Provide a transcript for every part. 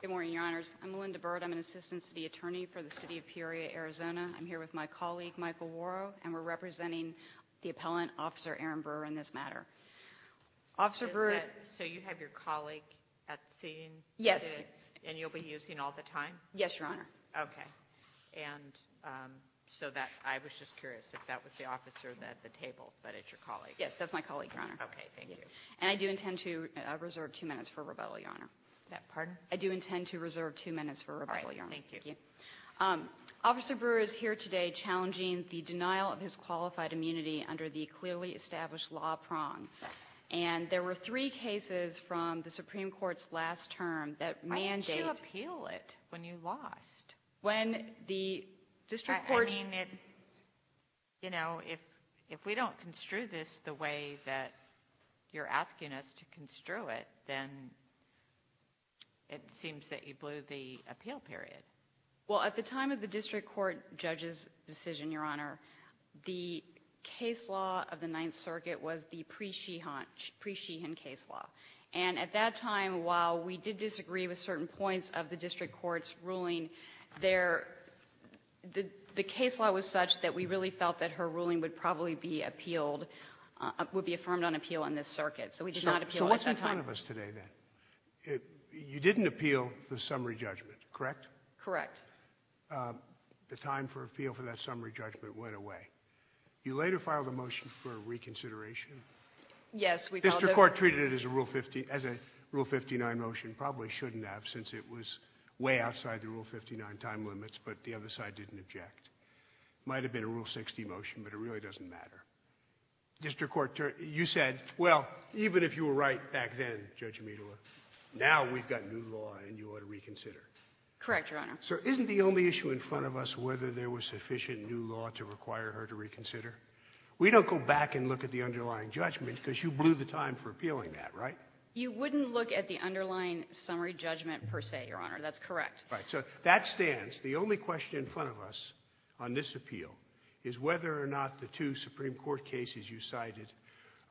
Good morning, Your Honors. I'm Melinda Byrd. I'm an Assistant City Attorney for the City of Peoria, Arizona. I'm here with my colleague, Michael Worrow, and we're representing the appellant, Officer Aaron Burr, in this matter. Officer Burr... So you have your colleague at the scene? Yes. And you'll be using all the time? Yes, Your Honor. Okay. So I was just curious if that was the officer at the table, but it's your colleague. Yes, that's my colleague, Your Honor. Okay, thank you. And I do intend to reserve two minutes for rebuttal, Your Honor. I do intend to reserve two minutes for rebuttal, Your Honor. Thank you. Officer Burr is here today challenging the denial of his qualified immunity under the clearly established law prong. And there were three cases from the Supreme Court's last term that mandate... Why didn't you appeal it when you lost? When the district court... You know, if we don't construe this the way that you're asking us to construe it, then it seems that you blew the appeal period. Well, at the time of the district court judge's decision, Your Honor, the case law of the Ninth Circuit was the pre-sheehan case law. And at that time, while we did disagree with certain points of the district court's ruling, the case law was such that we really felt that her ruling would probably be appealed, would be affirmed on appeal in this circuit. So we did not appeal it at that time. So what's in front of us today, then? You didn't appeal the summary judgment, correct? Correct. The time for appeal for that summary judgment went away. You later filed a motion for reconsideration. District court treated it as a Rule 59 motion, probably shouldn't have since it was way outside the Rule 59 time limits, but the other side didn't object. Might have been a Rule 60 motion, but it really doesn't matter. District court, you said, well, even if you were right back then, Judge Amedola, now we've got new law and you ought to reconsider. Correct, Your Honor. So isn't the only issue in front of us whether there was sufficient new law to require her to reconsider? We don't go back and look at the underlying judgment because you blew the time for appealing that, right? You wouldn't look at the underlying summary judgment per se, Your Honor. That's correct. Right. So that stands. The only question in front of us on this appeal is whether or not the two Supreme Court cases you cited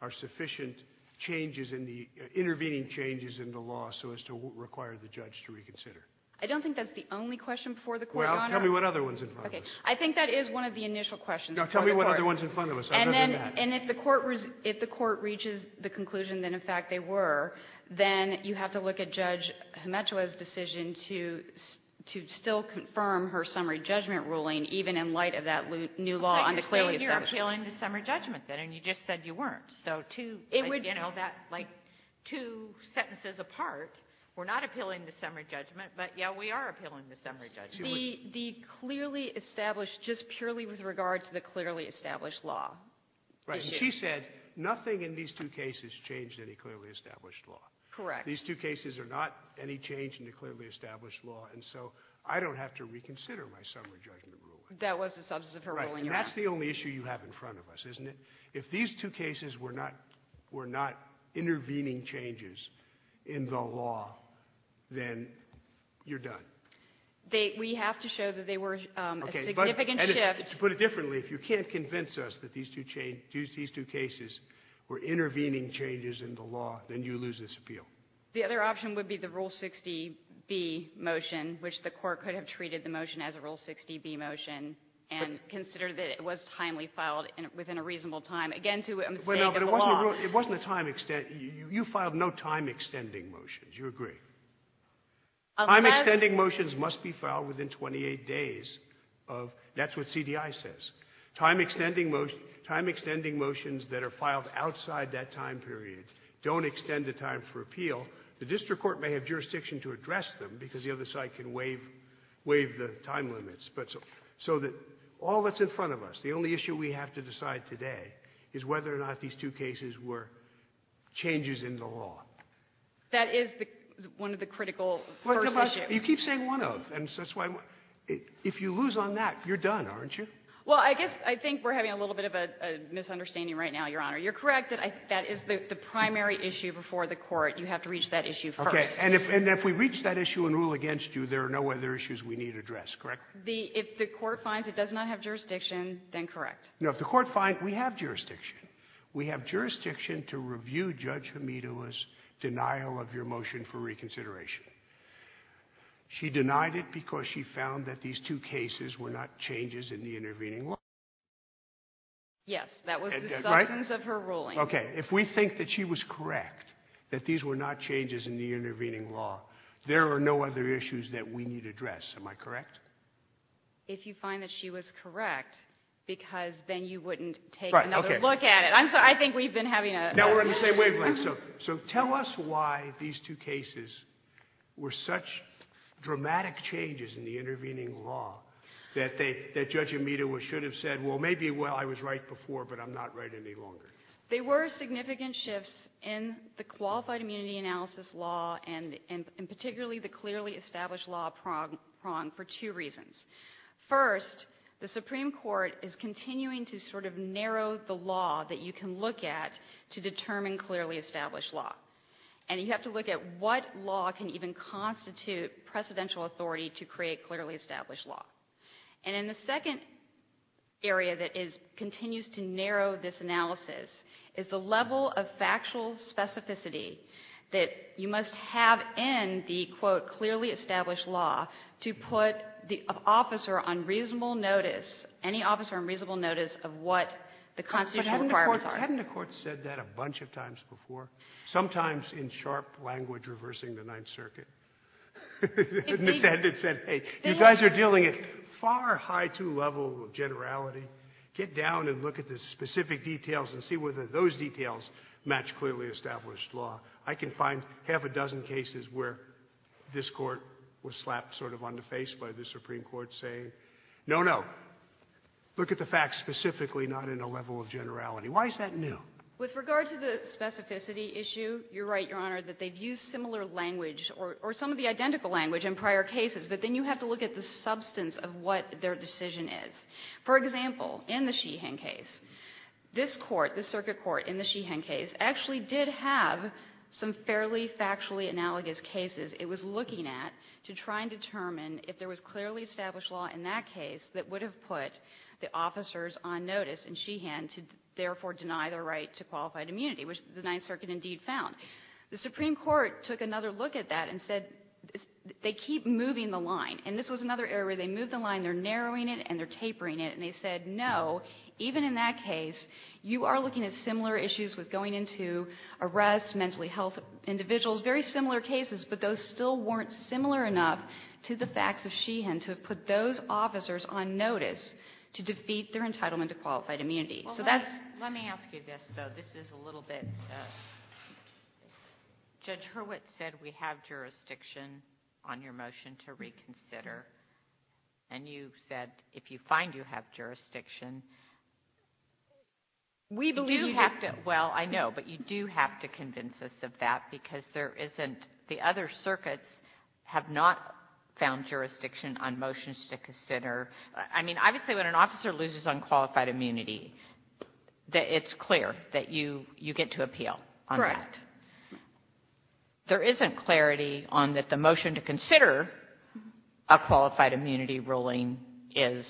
are sufficient changes in the – intervening changes in the law so as to require the judge to reconsider. I don't think that's the only question before the Court, Your Honor. Well, tell me what other one's in front of us. Okay. I think that is one of the initial questions before the Court. No, tell me what other one's in front of us. I've never done that. And if the Court reaches the conclusion that, in fact, they were, then you have to look at Judge Hemetua's decision to still confirm her summary judgment ruling even in light of that new law undeclared. But you're appealing the summary judgment, then, and you just said you weren't. So two, you know, like two sentences apart, we're not appealing the summary judgment, but, yeah, we are appealing the summary judgment. The clearly established, just purely with regard to the clearly established law issue. Right. And she said nothing in these two cases changed any clearly established law. Correct. These two cases are not any change in the clearly established law, and so I don't have to reconsider my summary judgment ruling. That was the substance of her ruling, Your Honor. That's the only issue you have in front of us, isn't it? If these two cases were not intervening changes in the law, then you're done. We have to show that they were a significant shift. To put it differently, if you can't convince us that these two cases were intervening changes in the law, then you lose this appeal. The other option would be the Rule 60b motion, which the Court could have treated the motion as a Rule 60b motion and considered that it was timely filed and within a reasonable time. Again, to the extent of the law. It wasn't a time-extended. You filed no time-extending motions. You agree. Time-extending motions must be filed within 28 days of that's what CDI says. Time-extending motions that are filed outside that time period don't extend the time for appeal. The district court may have jurisdiction to address them because the other side can waive the time limits. But so that all that's in front of us, the only issue we have to decide today is whether or not these two cases were changes in the law. That is the one of the critical first issues. You keep saying one of, and that's why if you lose on that, you're done, aren't you? Well, I guess I think we're having a little bit of a misunderstanding right now, Your Honor. You're correct that that is the primary issue before the court. You have to reach that issue first. Okay. And if we reach that issue and rule against you, there are no other issues we need addressed, correct? If the court finds it does not have jurisdiction, then correct. No, if the court finds we have jurisdiction. We have jurisdiction to review Judge Hamida's denial of your motion for reconsideration. She denied it because she found that these two cases were not changes in the intervening law. Yes. That was the substance of her ruling. Right? Okay. If we think that she was correct, that these were not changes in the intervening law, there are no other issues that we need addressed. Am I correct? If you find that she was correct, because then you wouldn't take another look at it. Right. Okay. I'm sorry. I think we've been having a misunderstanding. Now we're on the same wavelength. So tell us why these two cases were such dramatic changes in the intervening law that Judge Hamida should have said, well, maybe I was right before, but I'm not right any longer. They were significant shifts in the qualified immunity analysis law and particularly the clearly established law prong for two reasons. First, the Supreme Court is continuing to sort of narrow the law that you can look at to determine clearly established law. And you have to look at what law can even constitute precedential authority to create clearly established law. And in the second area that continues to narrow this analysis is the level of factual specificity that you must have in the, quote, clearly established law to put the officer on reasonable notice, any officer on reasonable notice of what the constitutional requirements are. But hadn't the Court said that a bunch of times before, sometimes in sharp language reversing the Ninth Circuit? And said, hey, you guys are dealing at far high too level of generality. Get down and look at the specific details and see whether those details match clearly established law. I can find half a dozen cases where this Court was slapped sort of on the face by the Supreme Court saying, no, no, look at the facts specifically, not in a level of generality. Why is that new? With regard to the specificity issue, you're right, Your Honor, that they've used similar language or some of the identical language in prior cases, but then you have to look at the substance of what their decision is. For example, in the Sheehan case, this Court, the circuit court in the Sheehan case, actually did have some fairly factually analogous cases it was looking at to try and determine if there was clearly established law in that case that would have put the officers on notice in Sheehan to therefore deny their right to qualified immunity, which the Ninth Circuit indeed found. The Supreme Court took another look at that and said they keep moving the line. And this was another area where they moved the line, they're narrowing it, and they're tapering it. And they said, no, even in that case, you are looking at similar issues with going into arrests, mentally ill individuals, very similar cases, but those still weren't similar enough to the facts of Sheehan to have put those officers on notice to defeat their entitlement to qualified immunity. So that's Well, let me ask you this, though. This is a little bit, Judge Hurwitz said we have jurisdiction on your motion to reconsider. And you said if you find you have jurisdiction, do you have to We believe Well, I know, but you do have to convince us of that because there isn't, the other circuits have not found jurisdiction on motions to consider. I mean, obviously when an officer loses unqualified immunity, it's clear that you get to appeal on that. Correct. There isn't clarity on that the motion to consider a qualified immunity ruling is,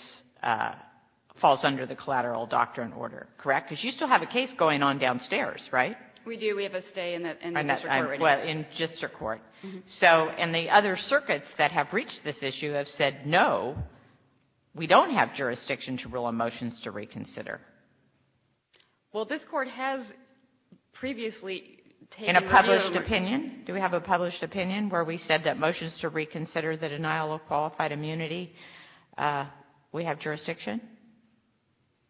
falls under the collateral doctrine order, correct? Because you still have a case going on downstairs, right? We do. We have a stay in the district court right now. Well, in district court. So, and the other circuits that have reached this issue have said, no, we don't have jurisdiction to rule on motions to reconsider. Well, this Court has previously taken a view In a published opinion? Do we have a published opinion where we said that motions to reconsider the denial of qualified immunity, we have jurisdiction?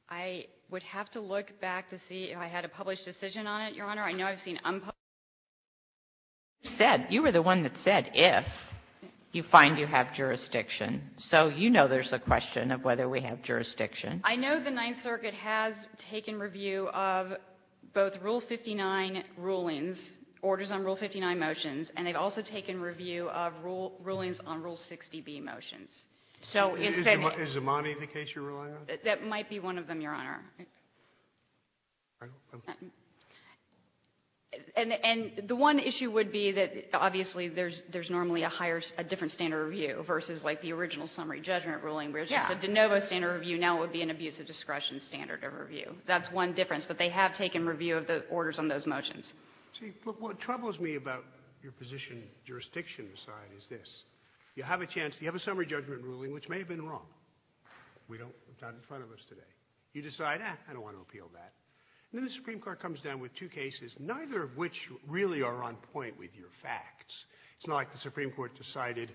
I would have to look back to see if I had a published decision on it, Your Honor. I know I've seen unpublished decisions. You said, you were the one that said if you find you have jurisdiction. So you know there's a question of whether we have jurisdiction. I know the Ninth Circuit has taken review of both Rule 59 rulings, orders on Rule 59 motions, and they've also taken review of rulings on Rule 60b motions. So instead of Is Imani the case you're relying on? That might be one of them, Your Honor. And the one issue would be that, obviously, there's normally a higher, a different standard of review versus like the original summary judgment ruling, where it's just a de novo standard of review. Now it would be an abuse of discretion standard of review. That's one difference. But they have taken review of the orders on those motions. See, what troubles me about your position, jurisdiction side, is this. You have a chance, you have a summary judgment ruling, which may have been wrong. We don't, not in front of us today. You decide, eh, I don't want to appeal that. And then the Supreme Court comes down with two cases, neither of which really are on point with your facts. It's not like the Supreme Court decided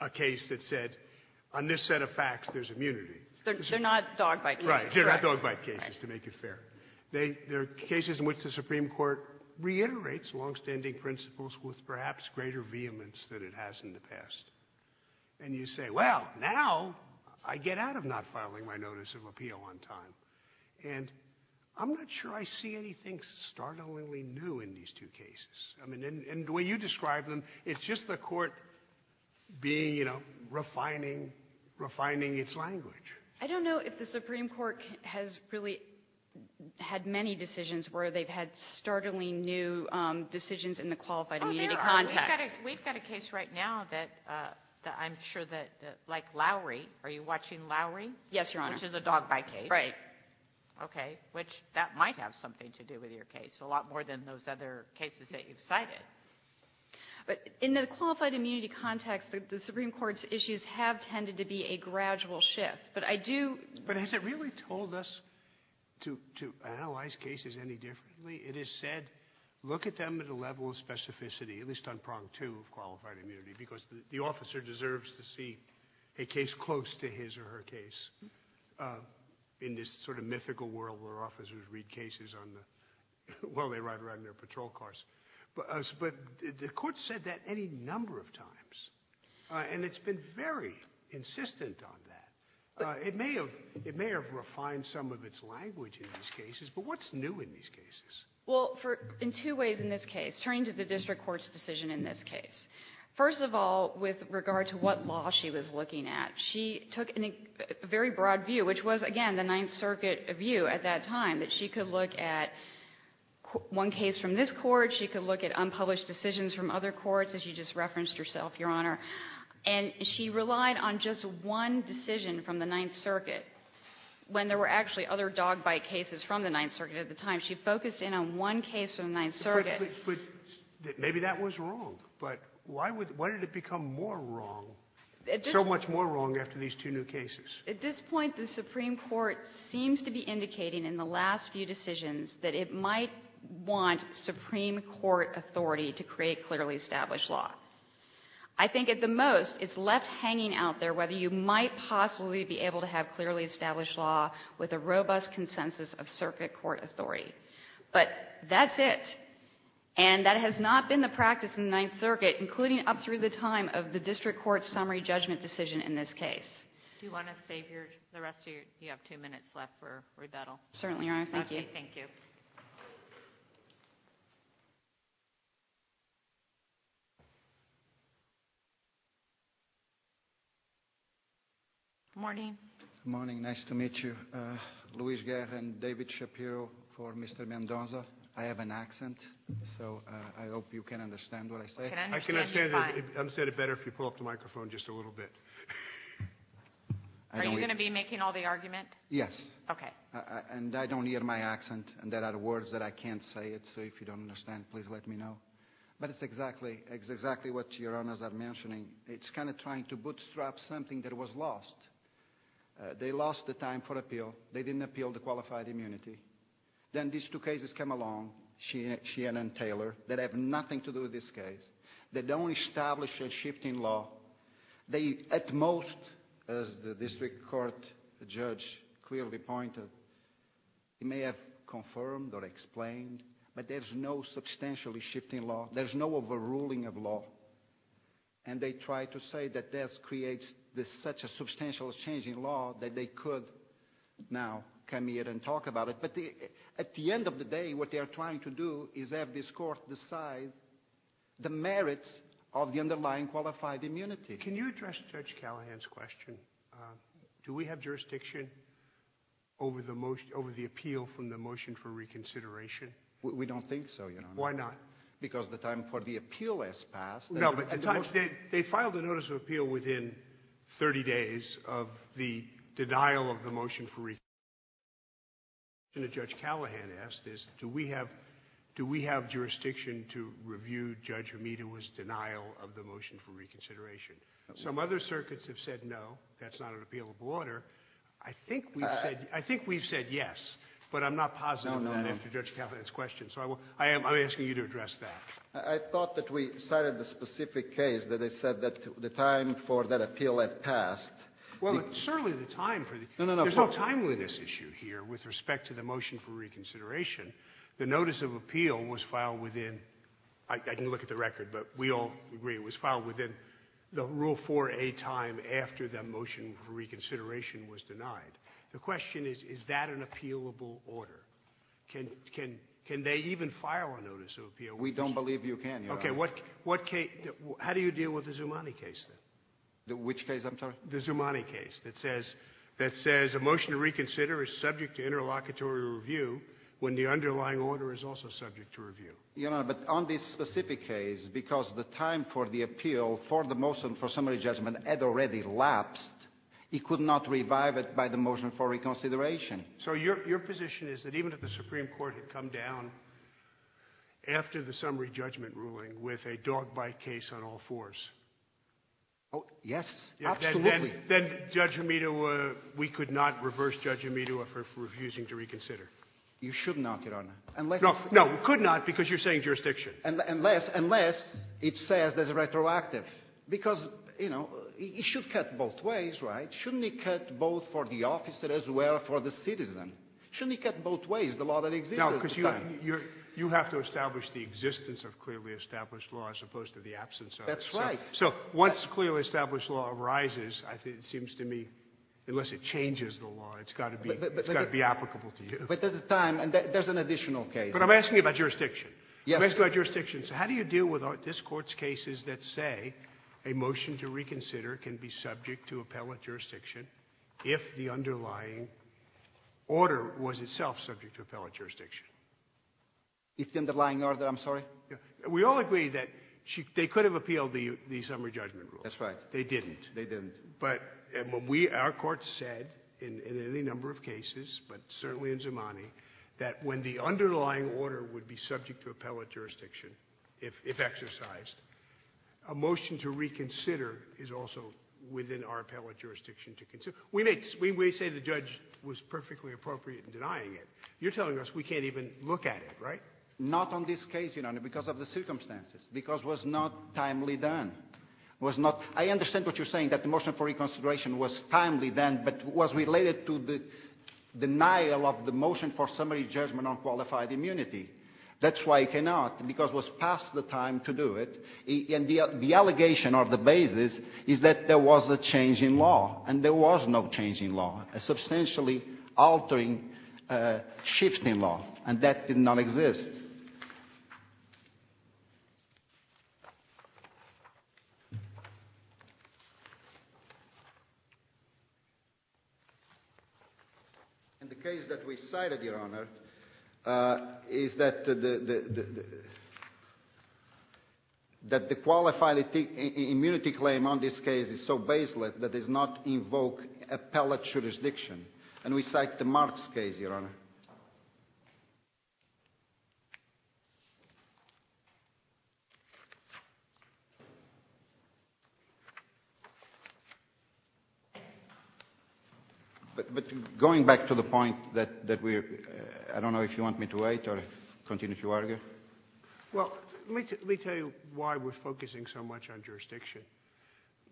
a case that said, on this set of facts, there's immunity. They're not dog bite cases. Right. They're not dog bite cases, to make it fair. They're cases in which the Supreme Court reiterates longstanding principles with perhaps greater vehemence than it has in the past. And you say, well, now I get out of not filing my notice of appeal on time. And I'm not sure I see anything startlingly new in these two cases. I mean, and the way you describe them, it's just the Court being, you know, refining, refining its language. I don't know if the Supreme Court has really had many decisions where they've had startling new decisions in the qualified immunity context. We've got a case right now that I'm sure that, like Lowry. Are you watching Lowry? Yes, Your Honor. Which is a dog bite case. Right. Okay. Which that might have something to do with your case, a lot more than those other cases that you've cited. But in the qualified immunity context, the Supreme Court's issues have tended to be a gradual shift. But I do... But has it really told us to analyze cases any differently? It has said, look at them at a level of specificity, at least on prong two of qualified immunity, because the officer deserves to see a case close to his or her case in this sort of mythical world where officers read cases while they ride around in their patrol cars. But the Court said that any number of times. And it's been very insistent on that. It may have refined some of its language in these cases, but what's new in these cases? Well, in two ways in this case, turning to the district court's decision in this case. First of all, with regard to what law she was looking at, she took a very broad view, which was, again, the Ninth Circuit view at that time, that she could look at one case from this court, she could look at unpublished decisions from other courts, as you just referenced yourself, Your Honor. And she relied on just one decision from the Ninth Circuit when there were actually other dog bite cases from the Ninth Circuit at the time. She focused in on one case from the Ninth Circuit. But maybe that was wrong. But why did it become more wrong, so much more wrong after these two new cases? At this point, the Supreme Court seems to be indicating in the last few decisions that it might want Supreme Court authority to create clearly established law. I think at the most, it's left hanging out there whether you might possibly be able to have clearly established law with a robust consensus of circuit court authority. But that's it. And that has not been the practice in the Ninth Circuit, including up through the time of the district court's summary judgment decision in this case. Do you want to save the rest of your – you have two minutes left for rebuttal. Certainly, Your Honor. Thank you. Thank you. Good morning. Good morning. Nice to meet you. Luis Guerra and David Shapiro for Mr. Mendoza. I have an accent, so I hope you can understand what I say. I can understand it better if you pull up the microphone just a little bit. Are you going to be making all the argument? Yes. Okay. And I don't hear my accent. And there are words that I can't say, so if you don't understand, please let me know. But it's exactly what Your Honors are mentioning. It's kind of trying to bootstrap something that was lost. They lost the time for appeal. They didn't appeal the qualified immunity. Then these two cases come along, Sheehan and Taylor, that have nothing to do with this case. They don't establish a shift in law. They, at most, as the district court judge clearly pointed, may have confirmed or explained, but there's no substantially shift in law. There's no overruling of law. And they try to say that this creates such a substantial change in law that they could now come here and talk about it. But at the end of the day, what they are trying to do is have this court decide the merits of the underlying qualified immunity. Can you address Judge Callahan's question? Do we have jurisdiction over the appeal from the motion for reconsideration? We don't think so, Your Honor. Why not? Because the time for the appeal has passed. No, but they filed a notice of appeal within 30 days of the denial of the motion for reconsideration. The question that Judge Callahan asked is, do we have jurisdiction to review Judge Hamida's denial of the motion for reconsideration? Some other circuits have said no, that's not an appealable order. I think we've said yes, but I'm not positive on that after Judge Callahan's question. So I'm asking you to address that. I thought that we cited the specific case that they said that the time for that appeal had passed. Well, certainly the time for the – there's no timeliness issue here with respect to the motion for reconsideration. The notice of appeal was filed within – I can look at the record, but we all agree it was filed within the Rule 4a time after the motion for reconsideration was denied. The question is, is that an appealable order? Can they even file a notice of appeal? We don't believe you can, Your Honor. Okay. What case – how do you deal with the Zoumani case, then? Which case, I'm sorry? The Zoumani case that says a motion to reconsider is subject to interlocutory review when the underlying order is also subject to review. Your Honor, but on this specific case, because the time for the appeal for the motion for summary judgment had already lapsed, he could not revive it by the motion for reconsideration. So your position is that even if the Supreme Court had come down after the summary judgment ruling with a dog-bite case on all fours? Oh, yes, absolutely. Then Judge Amito – we could not reverse Judge Amito for refusing to reconsider? You should not, Your Honor. No, we could not because you're saying jurisdiction. Unless it says that it's retroactive, because, you know, it should cut both ways, right? Shouldn't it cut both for the officer as well as for the citizen? Shouldn't it cut both ways, the law that exists at the time? No, because you have to establish the existence of clearly established law as opposed to the absence of it. That's right. So once clearly established law arises, it seems to me, unless it changes the law, it's got to be applicable to you. But at the time, there's an additional case. But I'm asking you about jurisdiction. Yes. I'm asking about jurisdiction. So how do you deal with this Court's cases that say a motion to reconsider can be subject to appellate jurisdiction if the underlying order was itself subject to appellate jurisdiction? If the underlying order, I'm sorry? We all agree that they could have appealed the summary judgment rule. That's right. They didn't. They didn't. But our Court said in any number of cases, but certainly in Zamani, that when the underlying order would be subject to appellate jurisdiction, if exercised, a motion to reconsider is also within our appellate jurisdiction to consider. We may say the judge was perfectly appropriate in denying it. You're telling us we can't even look at it, right? Not on this case, Your Honor, because of the circumstances, because it was not timely done. I understand what you're saying, that the motion for reconsideration was timely then, but was related to the denial of the motion for summary judgment on qualified immunity. That's why it cannot, because it was past the time to do it. And the allegation or the basis is that there was a change in law, and there was no change in law, a substantially altering shift in law, and that did not exist. And the case that we cited, Your Honor, is that the qualified immunity claim on this case is so baseless that it does not invoke appellate jurisdiction. And we cite the Marks case, Your Honor. But going back to the point that we're – I don't know if you want me to wait or continue to argue. Well, let me tell you why we're focusing so much on jurisdiction.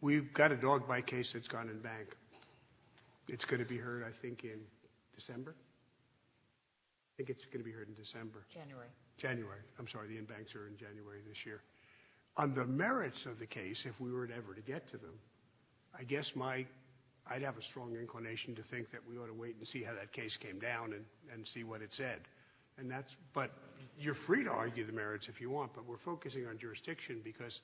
We've got a dog bite case that's gone in bank. It's going to be heard, I think, in December. I think it's going to be heard in December. January. January. I'm sorry, the in-banks are in January this year. On the merits of the case, if we were ever to get to them, I guess my – I'd have a strong inclination to think that we ought to wait and see how that case came down and see what it said. And that's – but you're free to argue the merits if you want, but we're focusing on jurisdiction because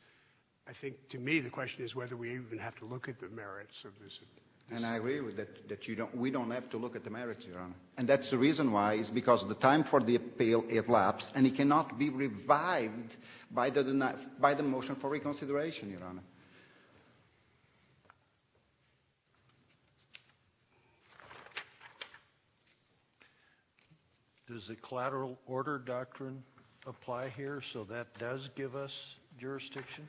I think to me the question is whether we even have to look at the merits of this case. And I agree with that, that we don't have to look at the merits, Your Honor. And that's the reason why is because the time for the appeal elapsed and it cannot be revived by the motion for reconsideration, Your Honor. Does the collateral order doctrine apply here so that does give us jurisdiction?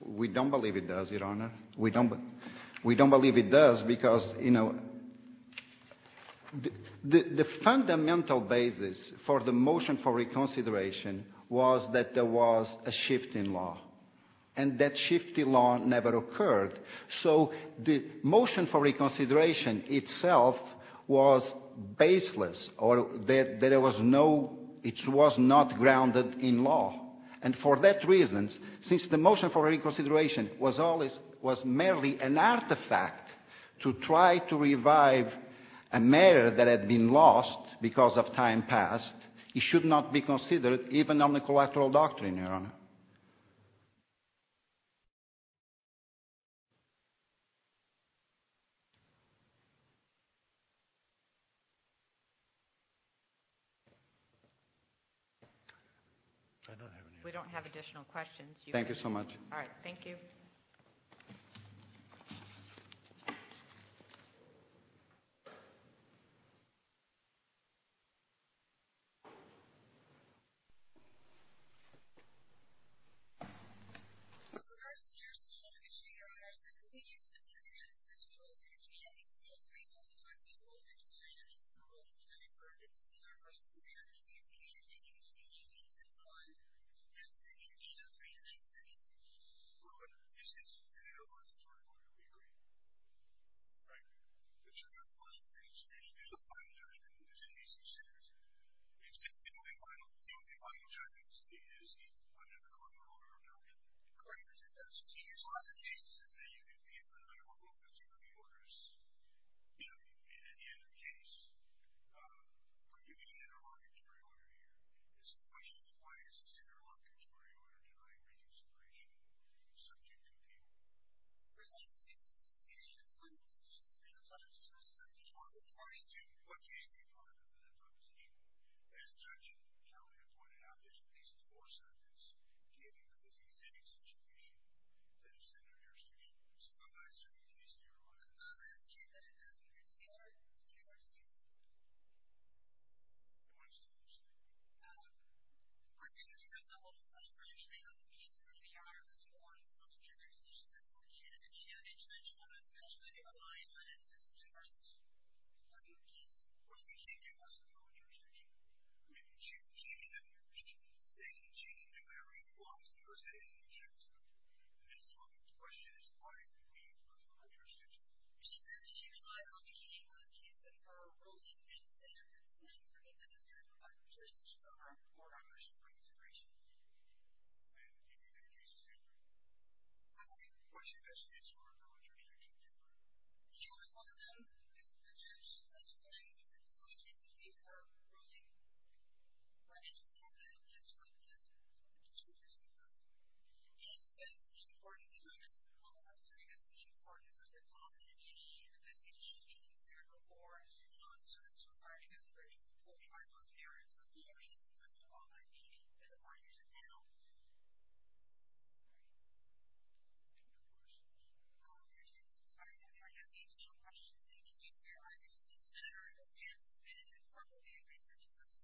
We don't believe it does, Your Honor. We don't believe it does because, you know, the fundamental basis for the motion for reconsideration was that there was a shift in law. And that shift in law never occurred. So the motion for reconsideration itself was baseless or there was no – it was not grounded in law. And for that reason, since the motion for reconsideration was always – was merely an artifact to try to revive a matter that had been lost because of time past, it should not be considered even on the collateral doctrine, Your Honor. We don't have additional questions. Thank you so much. All right, thank you. Thank you. The final argument is that under the collateral order doctrine, there's a lot of cases that say you can be in front of a court with two of the orders, and at the end of the case, when you get an interlocutory order, the situation is why is this interlocutory order denied reconsideration subject to appeal? For instance, in this case, when the decision to make a final decision on appeal was deferred to what case, Your Honor? As Judge Kelly had pointed out, there's at least four subjects, and they make the same exception to appeal that are subject to reconsideration. So what about a certain case here? Well, there's a case that is a particular case. Which case? We're going to hear the whole summary thing of the case, Your Honor, as we go on to look at the other decisions that we're looking at, and then we're going to have a judgment to rely on in this particular case. What do you think she did was wrong in the objection? I mean, she didn't do anything. She didn't do whatever she wanted to do. It was an interjection. And so the question is, what do you think she did was wrong in the objection? She relied on the shape of the case, and she did not serve to apply to those cases. She relied on the merits of the objections that we've all heard, meaning that the finders of that oath. All right. We're going to take some time now. If you have any additional questions, please use the air-hider. So please turn around and stand so we can get a proper view of your session.